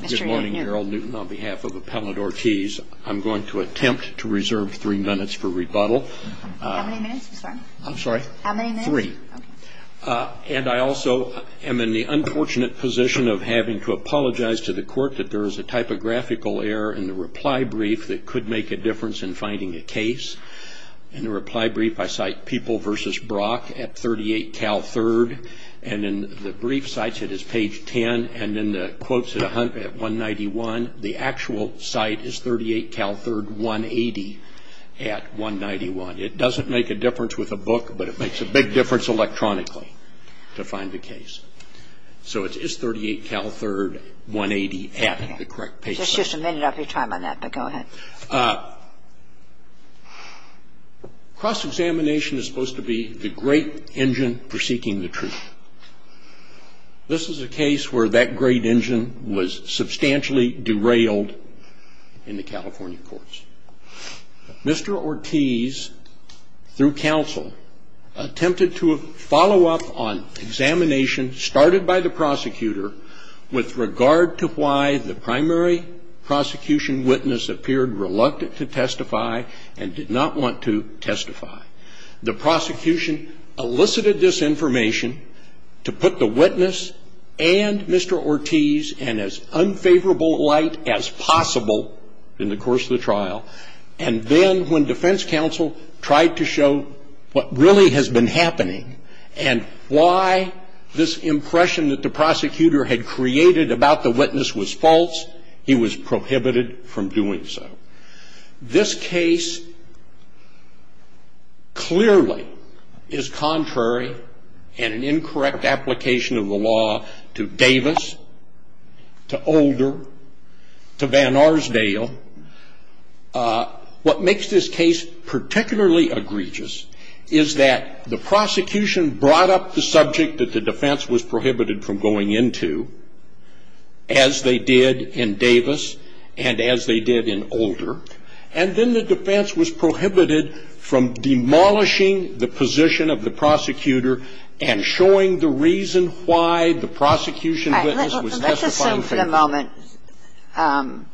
Good morning, Gerald Newton. On behalf of Appellant Ortiz, I'm going to attempt to reserve three minutes for rebuttal. How many minutes, I'm sorry? I'm sorry? How many minutes? Three. And I also am in the unfortunate position of having to apologize to the court that there is a typographical error in the reply brief that could make a difference in finding a case. In the reply brief, I cite People v. Brock at 38 Cal 3rd, and in the brief cited as page 10, and in the quotes at 191, the actual site is 38 Cal 3rd, 180 at 191. It doesn't make a difference with a book, but it makes a big difference electronically to find the case. So it's 38 Cal 3rd, 180 at the correct page. There's just a minute of your time on that, but go ahead. Cross-examination is supposed to be the great engine for seeking the truth. This is a case where that great engine was substantially derailed in the California courts. Mr. Ortiz, through counsel, attempted to follow up on examination started by the prosecutor with regard to why the primary prosecution witness appeared reluctant to testify and did not want to testify. The prosecution elicited this information to put the witness and Mr. Ortiz in as unfavorable light as possible in the course of the trial, and then when defense counsel tried to show what really has been happening and why this impression that the prosecutor had created about the witness was false, he was prohibited from doing so. This case clearly is contrary and an incorrect application of the law to Davis, to Older, to Vanarsdale. What makes this case particularly egregious is that the prosecution brought up the subject that the defense was prohibited from going into, as they did in Davis and as they did in Older, and then the defense was prohibited from demolishing the position of the prosecutor and showing the reason why the prosecution witness was testifying favorably. I'm going to assume for the moment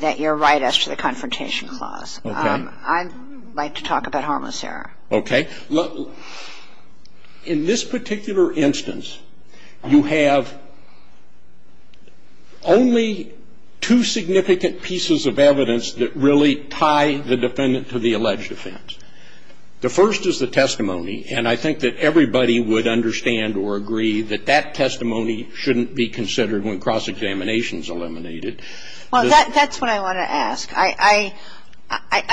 that you're right as to the confrontation clause. Okay. I'd like to talk about harmless error. Okay. In this particular instance, you have only two significant pieces of evidence that really tie the defendant to the alleged offense. The first is the testimony, and I think that everybody would understand or agree that that testimony shouldn't be considered when cross-examination is eliminated. Well, that's what I want to ask. I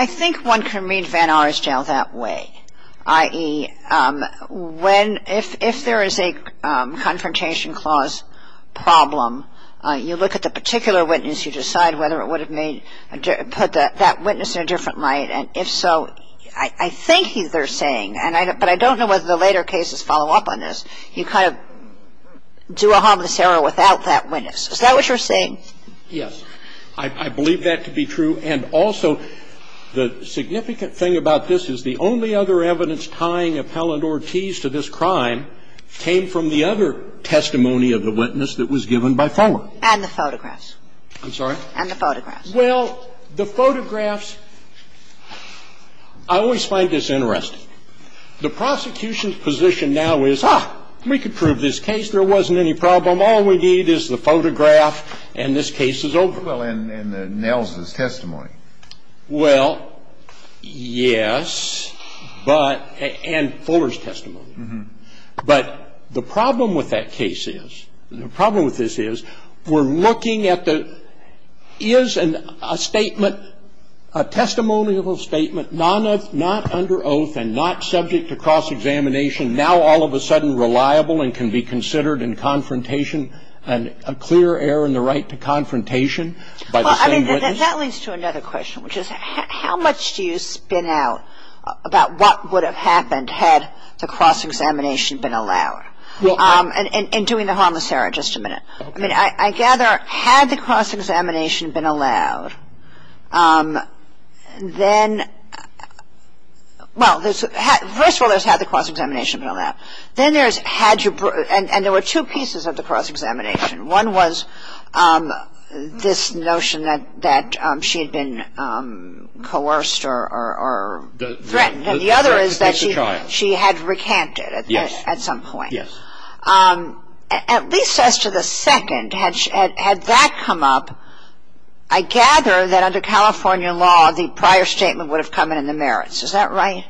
think one can read Vanarsdale that way, i.e., if there is a confrontation clause problem, you look at the particular witness, you decide whether it would have put that witness in a different light, and if so, I think they're saying, but I don't know whether the later cases follow up on this, you kind of do a harmless error without that witness. Is that what you're saying? Yes. I believe that to be true. And also, the significant thing about this is the only other evidence tying Appellant Ortiz to this crime came from the other testimony of the witness that was given by Fuller. And the photographs. I'm sorry? And the photographs. Well, the photographs, I always find this interesting. The prosecution's position now is, ah, we can prove this case. There wasn't any problem. All we need is the photograph, and this case is over. Well, and Nels' testimony. Well, yes, but ñ and Fuller's testimony. But the problem with that case is, the problem with this is, we're looking at the is a statement, a testimonial statement, not under oath and not subject to cross-examination, now all of a sudden reliable and can be considered in confrontation, and a clear error in the right to confrontation by the same witness. Well, I mean, that leads to another question, which is how much do you spin out about what would have happened had the cross-examination been allowed? And doing the harmless error, just a minute. I mean, I gather, had the cross-examination been allowed, then ñ well, first of all, there's had the cross-examination been allowed. Then there's had you ñ and there were two pieces of the cross-examination. One was this notion that she had been coerced or threatened, and the other is that she had recanted at some point. Yes. At least as to the second, had that come up, I gather that under California law the prior statement would have come in in the merits. Is that right?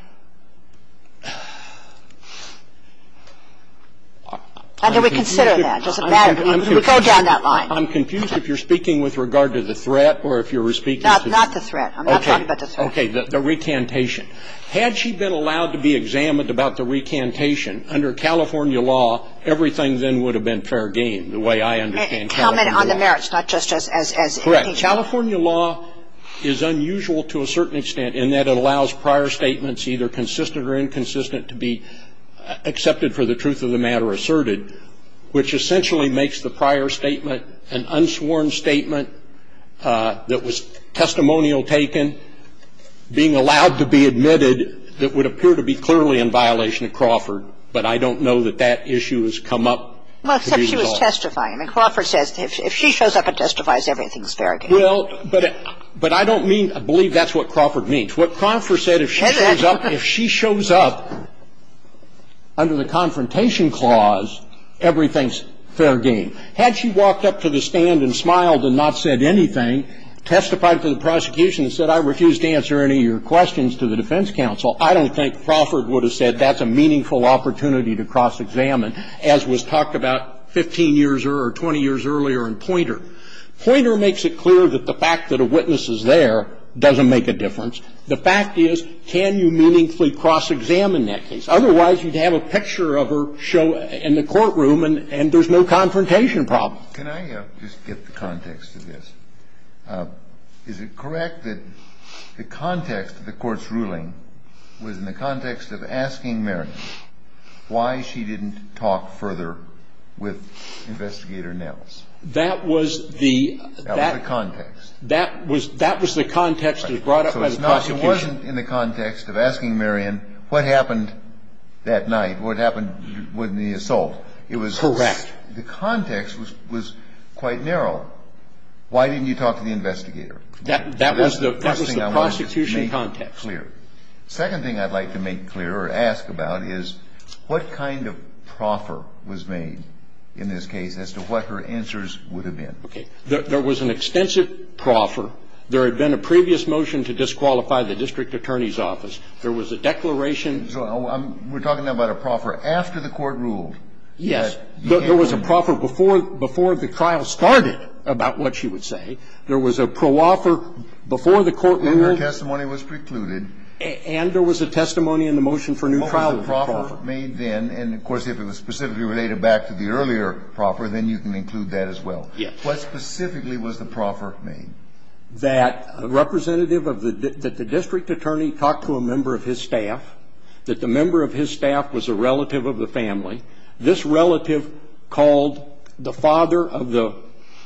How do we consider that? Does it matter? Can we go down that line? I'm confused if you're speaking with regard to the threat or if you're speaking to ñ Not the threat. I'm not talking about the threat. Okay. The recantation. Had she been allowed to be examined about the recantation, under California law, everything then would have been fair game, the way I understand California law. Comment on the merits, not just as ñ Correct. California law is unusual to a certain extent in that it allows prior statements, either consistent or inconsistent, to be accepted for the truth of the matter asserted, which essentially makes the prior statement an unsworn statement that was testimonial taken, being allowed to be admitted that would appear to be clearly in violation of Crawford. But I don't know that that issue has come up. Well, except she was testifying. Crawford says if she shows up and testifies, everything's fair game. Well, but I don't mean ñ I believe that's what Crawford means. What Crawford said, if she shows up under the confrontation clause, everything's fair game. Had she walked up to the stand and smiled and not said anything, testified to the prosecution and said, I refuse to answer any of your questions to the defense counsel, I don't think Crawford would have said that's a meaningful opportunity to cross-examine, as was talked about 15 years or 20 years earlier in Poynter. Poynter makes it clear that the fact that a witness is there doesn't make a difference. The fact is, can you meaningfully cross-examine that case? Otherwise, you'd have a picture of her show in the courtroom and there's no confrontation problem. Can I just get the context of this? Is it correct that the context of the court's ruling was in the context of asking Marion why she didn't talk further with Investigator Nells? That was the ñ That was the context. That was the context that was brought up by the prosecution. So it wasn't in the context of asking Marion what happened that night, what happened with the assault. Correct. The context was quite narrow. Why didn't you talk to the investigator? That was the prosecution context. Second thing I'd like to make clear or ask about is what kind of proffer was made in this case as to what her answers would have been. Okay. There was an extensive proffer. There had been a previous motion to disqualify the district attorney's office. There was a declaration ñ So we're talking about a proffer after the court ruled that ñ Yes. There was a proffer before the trial started about what she would say. There was a pro-offer before the court ruled ñ When her testimony was precluded. And there was a testimony in the motion for new trial with the proffer. What was the proffer made then? And, of course, if it was specifically related back to the earlier proffer, then you can include that as well. Yes. What specifically was the proffer made? That representative of the ñ that the district attorney talked to a member of his staff, that the member of his staff was a relative of the family. This relative called the father of the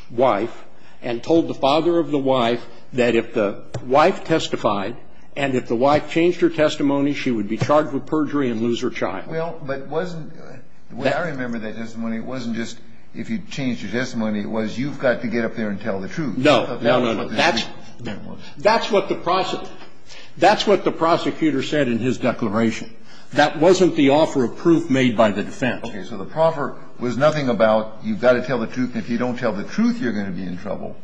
wife and told the father of the wife that if the wife testified and if the wife changed her testimony, she would be charged with perjury and lose her child. Well, but wasn't ñ the way I remember that testimony, it wasn't just if you changed your testimony. It was you've got to get up there and tell the truth. No. No, no, no. That's what the prosecutor ñ that's what the prosecutor said in his declaration. That wasn't the offer of proof made by the defense. Okay. So the proffer was nothing about you've got to tell the truth, and if you don't tell the truth, you're going to be in trouble.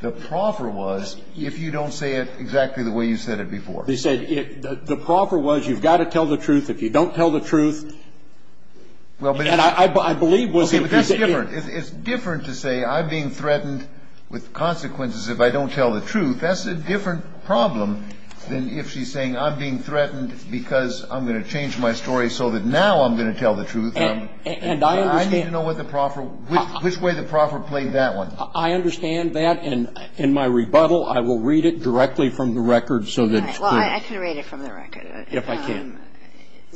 The proffer was if you don't say it exactly the way you said it before. They said the proffer was you've got to tell the truth. If you don't tell the truth ñ Well, but ñ And I believe was ñ Okay. But that's different. It's different to say I'm being threatened with consequences if I don't tell the truth. That's a different problem than if she's saying I'm being threatened because I'm going to change my story so that now I'm going to tell the truth. And I understand ñ I need to know what the proffer ñ which way the proffer played that one. I understand that. And in my rebuttal, I will read it directly from the record so that it's clear. Well, I can read it from the record. If I can.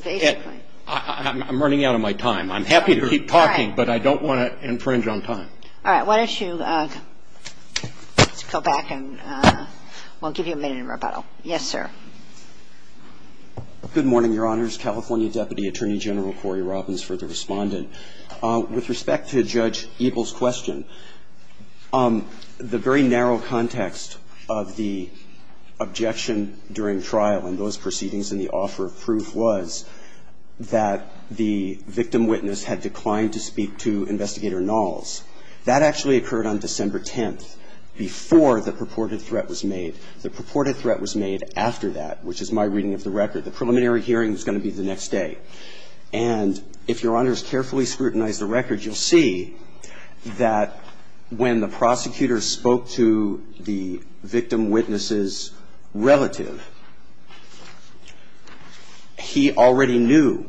Basically. I'm running out of my time. I'm happy to keep talking, but I don't want to infringe on time. All right. Why don't you go back and we'll give you a minute in rebuttal. Yes, sir. Good morning, Your Honors. California Deputy Attorney General Cory Robbins for the Respondent. With respect to Judge Eble's question, the very narrow context of the objection during trial in those proceedings and the offer of proof was that the victim witness had declined to speak to Investigator Knowles. That actually occurred on December 10th before the purported threat was made. The purported threat was made after that, which is my reading of the record. The preliminary hearing is going to be the next day. And if Your Honors carefully scrutinize the record, you'll see that when the prosecutor spoke to the victim witness's relative, he already knew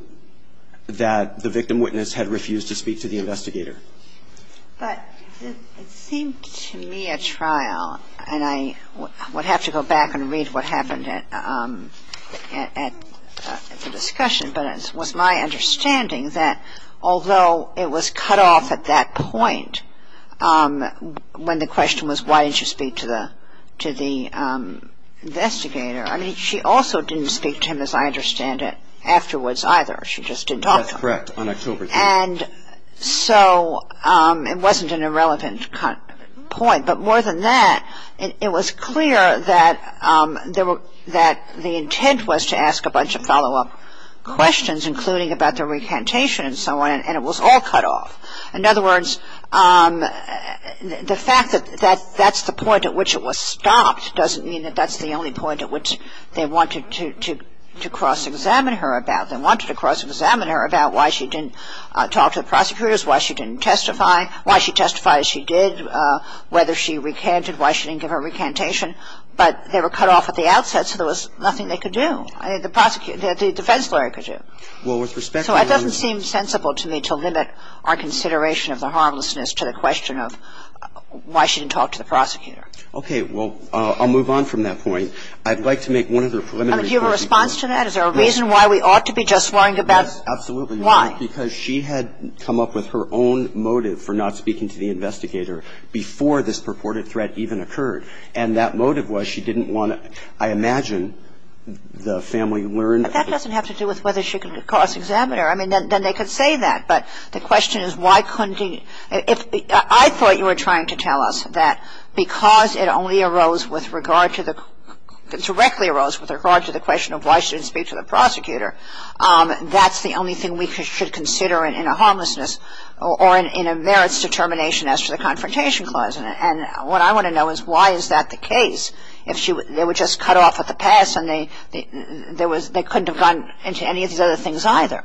that the victim witness had refused to speak to the investigator. But it seemed to me at trial, and I would have to go back and read what happened at the discussion, but it was my understanding that although it was cut off at that point when the question was why didn't you speak to the investigator, I mean, she also didn't speak to him as I understand it afterwards either. She just didn't talk to him. That's correct. On October 10th. And so it wasn't an irrelevant point. But more than that, it was clear that the intent was to ask a bunch of follow-up questions, including about the recantation and so on, and it was all cut off. In other words, the fact that that's the point at which it was stopped doesn't mean that that's the only point at which they wanted to cross-examine her about. They wanted to cross-examine her about why she didn't talk to the prosecutors, why she didn't testify, why she testified as she did, whether she recanted, why she didn't give her recantation. But they were cut off at the outset, so there was nothing they could do. The defense lawyer could do. So it doesn't seem sensible to me to limit our consideration of the harmlessness to the question of why she didn't talk to the prosecutor. Okay. Well, I'll move on from that point. I'd like to make one other preliminary point. Do you have a response to that? Is there a reason why we ought to be just worrying about why? Yes, absolutely. Because she had come up with her own motive for not speaking to the investigator before this purported threat even occurred. And that motive was she didn't want to, I imagine, the family learned. But that doesn't have to do with whether she could cross-examine her. I mean, then they could say that. But the question is why couldn't she? I thought you were trying to tell us that because it only arose with regard to the question of why she didn't speak to the prosecutor. That's the only thing we should consider in a harmlessness or in a merits determination as to the Confrontation Clause. And what I want to know is why is that the case? If they were just cut off at the pass and they couldn't have gone into any of these other things either.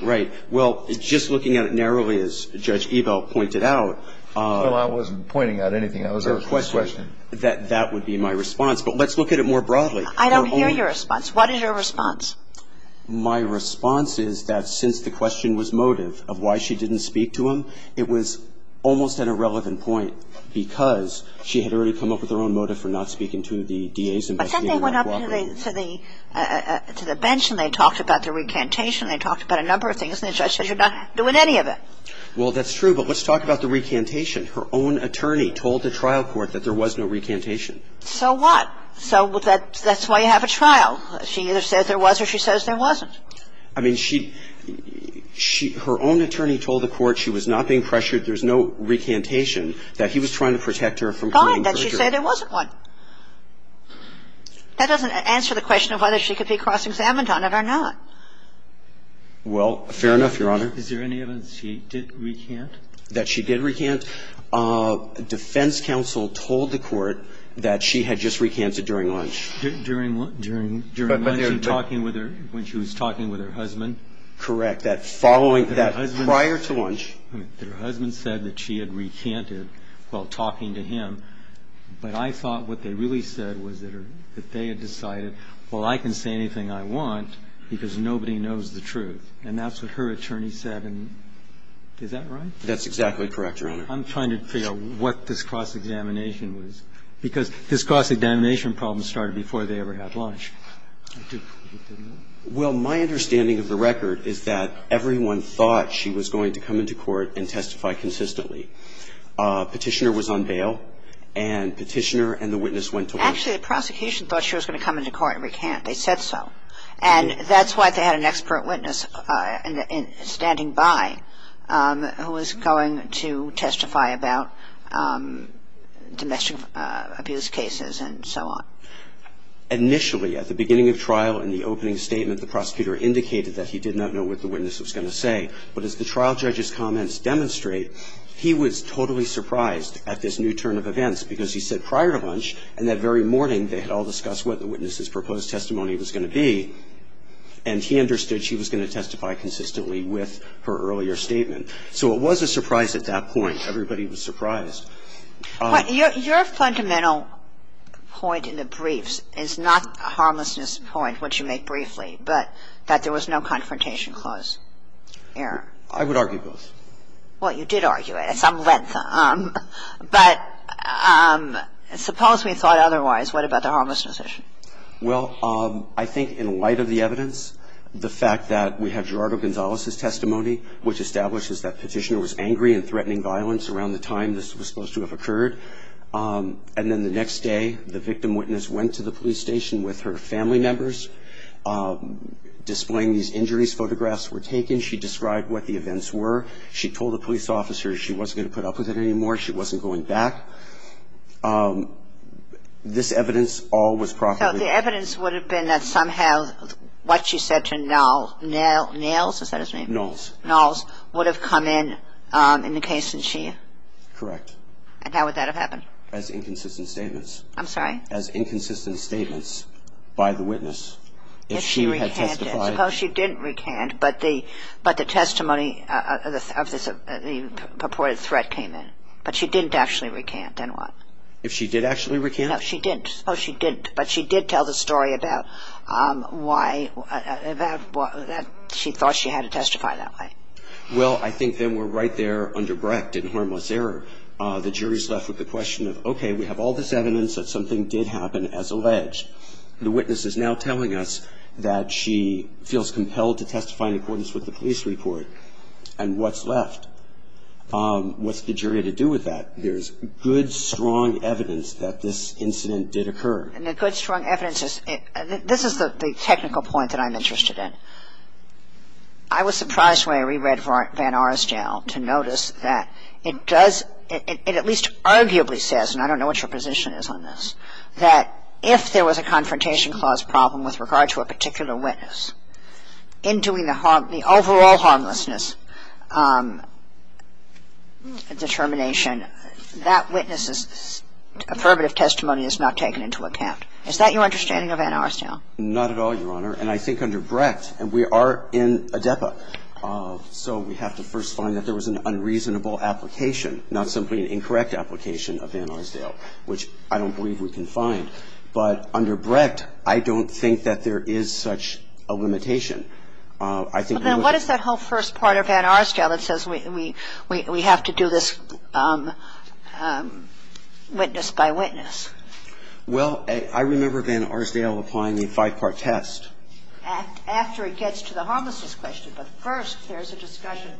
Right. Well, just looking at it narrowly, as Judge Ebel pointed out. Well, I wasn't pointing out anything. I was asking a question. That would be my response. But let's look at it more broadly. I don't hear your response. What is your response? My response is that since the question was motive of why she didn't speak to him, it was almost an irrelevant point because she had already come up with her own motive for not speaking to the DA's investigator. But then they went up to the bench and they talked about the recantation. They talked about a number of things. And the judge said you're not doing any of it. Well, that's true. But let's talk about the recantation. Her own attorney told the trial court that there was no recantation. So what? So that's why you have a trial. She either says there was or she says there wasn't. I mean, she – her own attorney told the court she was not being pressured, there's no recantation, that he was trying to protect her from claiming murder. Fine. That she said there wasn't one. That doesn't answer the question of whether she could be cross-examined on it or not. Well, fair enough, Your Honor. Is there any evidence she did recant? That she did recant? Well, I think that there was. I think it was her husband, I think it was. The defense counsel told the court that she had just recanted during lunch. During lunch and talking with her, when she was talking with her husband? Correct. That following that prior to lunch. Her husband said that she had recanted while talking to him. But I thought what they really said was that they had decided, well, I can say anything I want because nobody knows the truth. And that's what her attorney said. And is that right? That's exactly correct, Your Honor. I'm trying to figure out what this cross-examination was. Because this cross-examination problem started before they ever had lunch. Well, my understanding of the record is that everyone thought she was going to come into court and testify consistently. Petitioner was on bail. And Petitioner and the witness went to lunch. Actually, the prosecution thought she was going to come into court and recant. They said so. And that's why they had an expert witness standing by who was going to testify about domestic abuse cases and so on. Initially, at the beginning of trial in the opening statement, the prosecutor indicated that he did not know what the witness was going to say. But as the trial judge's comments demonstrate, he was totally surprised at this new turn of events because he said prior to lunch and that very morning they had all discussed what the witness's proposed testimony was going to be. And he understood she was going to testify consistently with her earlier statement. So it was a surprise at that point. Everybody was surprised. Your fundamental point in the briefs is not a harmlessness point, which you make briefly, but that there was no confrontation clause there. I would argue both. Well, you did argue it at some length. But suppose we thought otherwise. What about the harmlessness issue? Well, I think in light of the evidence, the fact that we have Gerardo Gonzalez's testimony, which establishes that Petitioner was angry and threatening violence around the time this was supposed to have occurred. And then the next day, the victim witness went to the police station with her family members, displaying these injuries photographs were taken. She described what the events were. She told the police officer she wasn't going to put up with it anymore. She wasn't going back. This evidence all was properly. So the evidence would have been that somehow what she said to Knowles would have come in in the case, didn't she? Correct. And how would that have happened? As inconsistent statements. I'm sorry? As inconsistent statements by the witness. If she had testified. Suppose she didn't recant, but the testimony of the purported threat came in. But she didn't actually recant. Then what? If she did actually recant? No, she didn't. Oh, she didn't. But she did tell the story about why she thought she had to testify that way. Well, I think then we're right there underbreaked in harmless error. The jury's left with the question of, okay, we have all this evidence that something did happen as alleged. The witness is now telling us that she feels compelled to testify in accordance with the police report. And what's left? What's the jury to do with that? There's good, strong evidence that this incident did occur. And the good, strong evidence is, this is the technical point that I'm interested in. I was surprised when I reread Van Arsdale to notice that it does, it at least arguably says, and I don't know what your position is on this, that if there was a Confrontation Clause problem with regard to a particular witness, in doing the overall harmlessness determination, that witness's affirmative testimony is not taken into account. Is that your understanding of Van Arsdale? Not at all, Your Honor. And I think under Brecht, and we are in ADEPA, so we have to first find that there was an unreasonable application, not simply an incorrect application of Van Arsdale, which I don't believe we can find. But under Brecht, I don't think that there is such a limitation. I think we would have to do this witness by witness. Well, I remember Van Arsdale applying a five-part test. I'm not sure whether that's what's happening here. And I think we would have to do it after it gets to the harmlessness question. But first, there's a discussion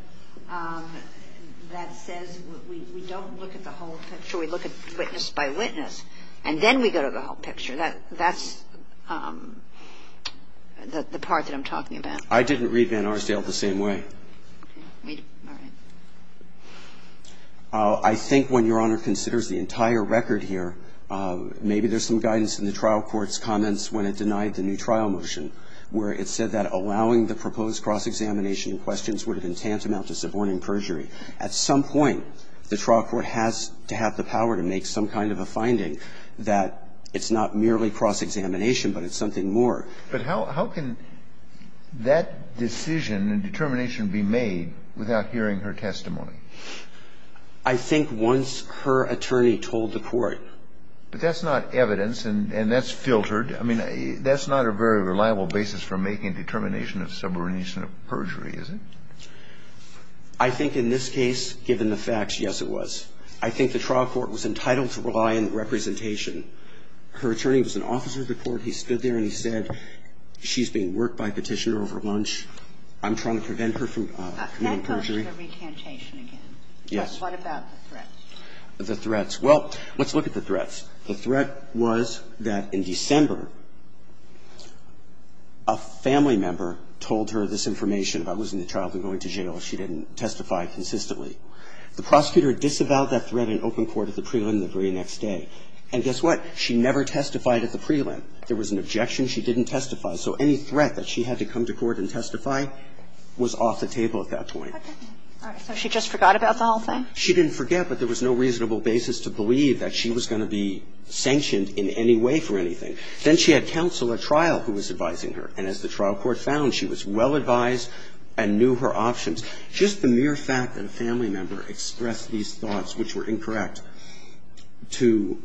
that says we don't look at the whole picture. We look at witness by witness, and then we go to the whole picture. That's the part that I'm talking about. I didn't read Van Arsdale the same way. All right. I think when Your Honor considers the entire record here, maybe there's some guidance in the trial court's comments when it denied the new trial motion, where it said that allowing the proposed cross-examination in questions would have been tantamount to suborning perjury. At some point, the trial court has to have the power to make some kind of a finding that it's not merely cross-examination, but it's something more. But how can that decision and determination be made without hearing her testimony? I think once her attorney told the court. But that's not evidence, and that's filtered. I mean, that's not a very reliable basis for making a determination of subordination of perjury, is it? I think in this case, given the facts, yes, it was. I think the trial court was entitled to rely on representation. Her attorney was an officer of the court. He stood there and he said, she's being worked by petitioner over lunch. I'm trying to prevent her from committing perjury. Can I go to the recantation again? Yes. What about the threats? The threats. Well, let's look at the threats. The threat was that in December, a family member told her this information about losing the child and going to jail. She didn't testify consistently. The prosecutor disavowed that threat in open court at the prelim the very next day. And guess what? She never testified at the prelim. There was an objection. She didn't testify. So any threat that she had to come to court and testify was off the table at that point. All right. So she just forgot about the whole thing? She didn't forget, but there was no reasonable basis to believe that she was going to be sanctioned in any way for anything. Then she had counsel at trial who was advising her. And as the trial court found, she was well advised and knew her options. Just the mere fact that a family member expressed these thoughts, which were incorrect, to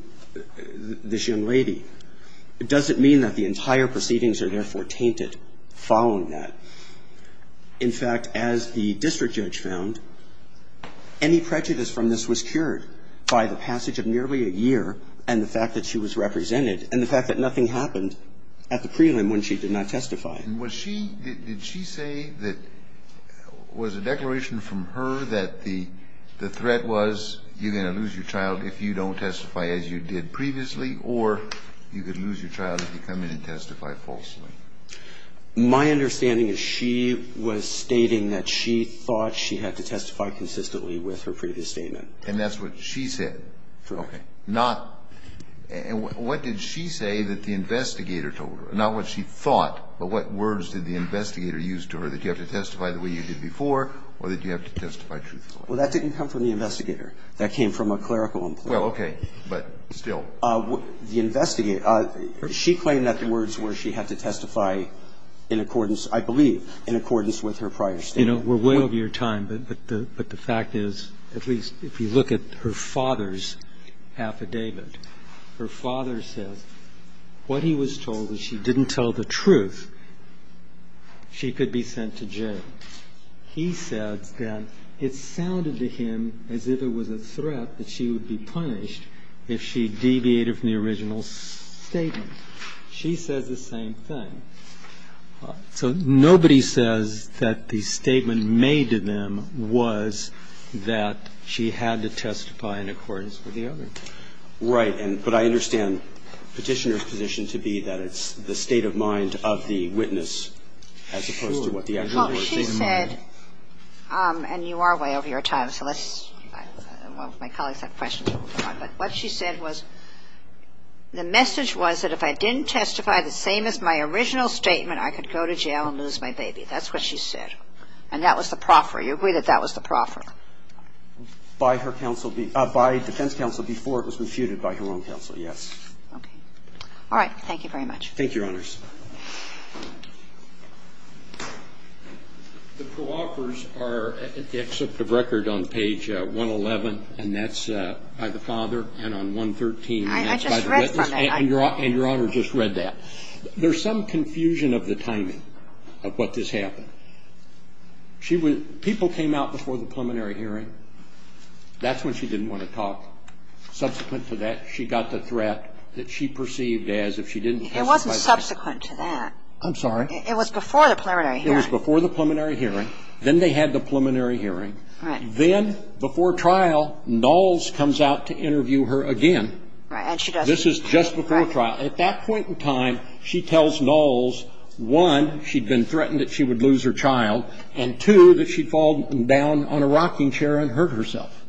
this young lady doesn't mean that the entire proceedings are therefore tainted following that. In fact, as the district judge found, any prejudice from this was cured by the passage of nearly a year and the fact that she was represented and the fact that nothing happened at the prelim when she did not testify. And was she – did she say that – was a declaration from her that the threat was you're going to lose your child if you don't testify as you did previously or you could lose your child if you come in and testify falsely? My understanding is she was stating that she thought she had to testify consistently with her previous statement. And that's what she said? Correct. Okay. Not – and what did she say that the investigator told her? Not what she thought, but what words did the investigator use to her, that you have to testify the way you did before or that you have to testify truthfully? Well, that didn't come from the investigator. That came from a clerical employee. Well, okay. But still. The investigator – she claimed that the words were she had to testify in accordance – I believe in accordance with her prior statement. You know, we're way over your time, but the fact is, at least if you look at her father's affidavit, her father says what he was told was she didn't tell the truth, she could be sent to jail. He said that it sounded to him as if it was a threat that she would be punished if she deviated from the original statement. She says the same thing. So nobody says that the statement made to them was that she had to testify in accordance with the other. Right. But I understand Petitioner's position to be that it's the state of mind of the witness as opposed to what the other person said. Well, she said – and you are way over your time, so let's – well, my colleagues have questions. But what she said was the message was that if I didn't testify the same as my original statement, I could go to jail and lose my baby. That's what she said. And that was the proffer. You agree that that was the proffer? By her counsel – by defense counsel before it was refuted by her own counsel, yes. Okay. All right. Thank you very much. Thank you, Your Honors. The proffers are an excerpt of record on page 111, and that's by the father, and on 113. I just read from that. And Your Honor just read that. There's some confusion of the timing of what just happened. She was – people came out before the preliminary hearing. That's when she didn't want to talk. Subsequent to that, she got the threat that she perceived as if she didn't testify I'm sorry. It was before the preliminary hearing. It was before the preliminary hearing. Then they had the preliminary hearing. Right. Then, before trial, Knowles comes out to interview her again. Right. And she doesn't. This is just before trial. At that point in time, she tells Knowles, one, she'd been threatened that she would lose her child, and two, that she'd fall down on a rocking chair and hurt herself.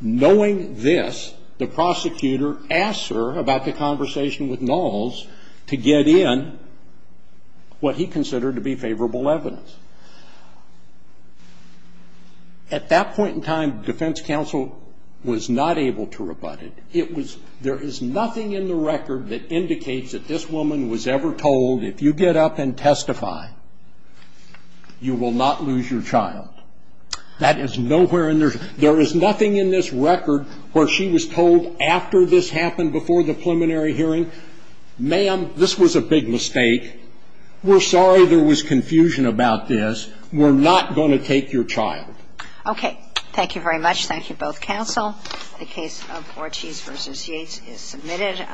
Knowing this, the prosecutor asks her about the conversation with Knowles to get in what he considered to be favorable evidence. At that point in time, defense counsel was not able to rebut it. There is nothing in the record that indicates that this woman was ever told, if you get up and testify, you will not lose your child. That is nowhere in there. There is nothing in this record where she was told after this happened, before the preliminary hearing, ma'am, this was a big mistake. We're sorry there was confusion about this. We're not going to take your child. Okay. Thank you very much. Thank you, both counsel. The case of Ortiz v. Yates is submitted.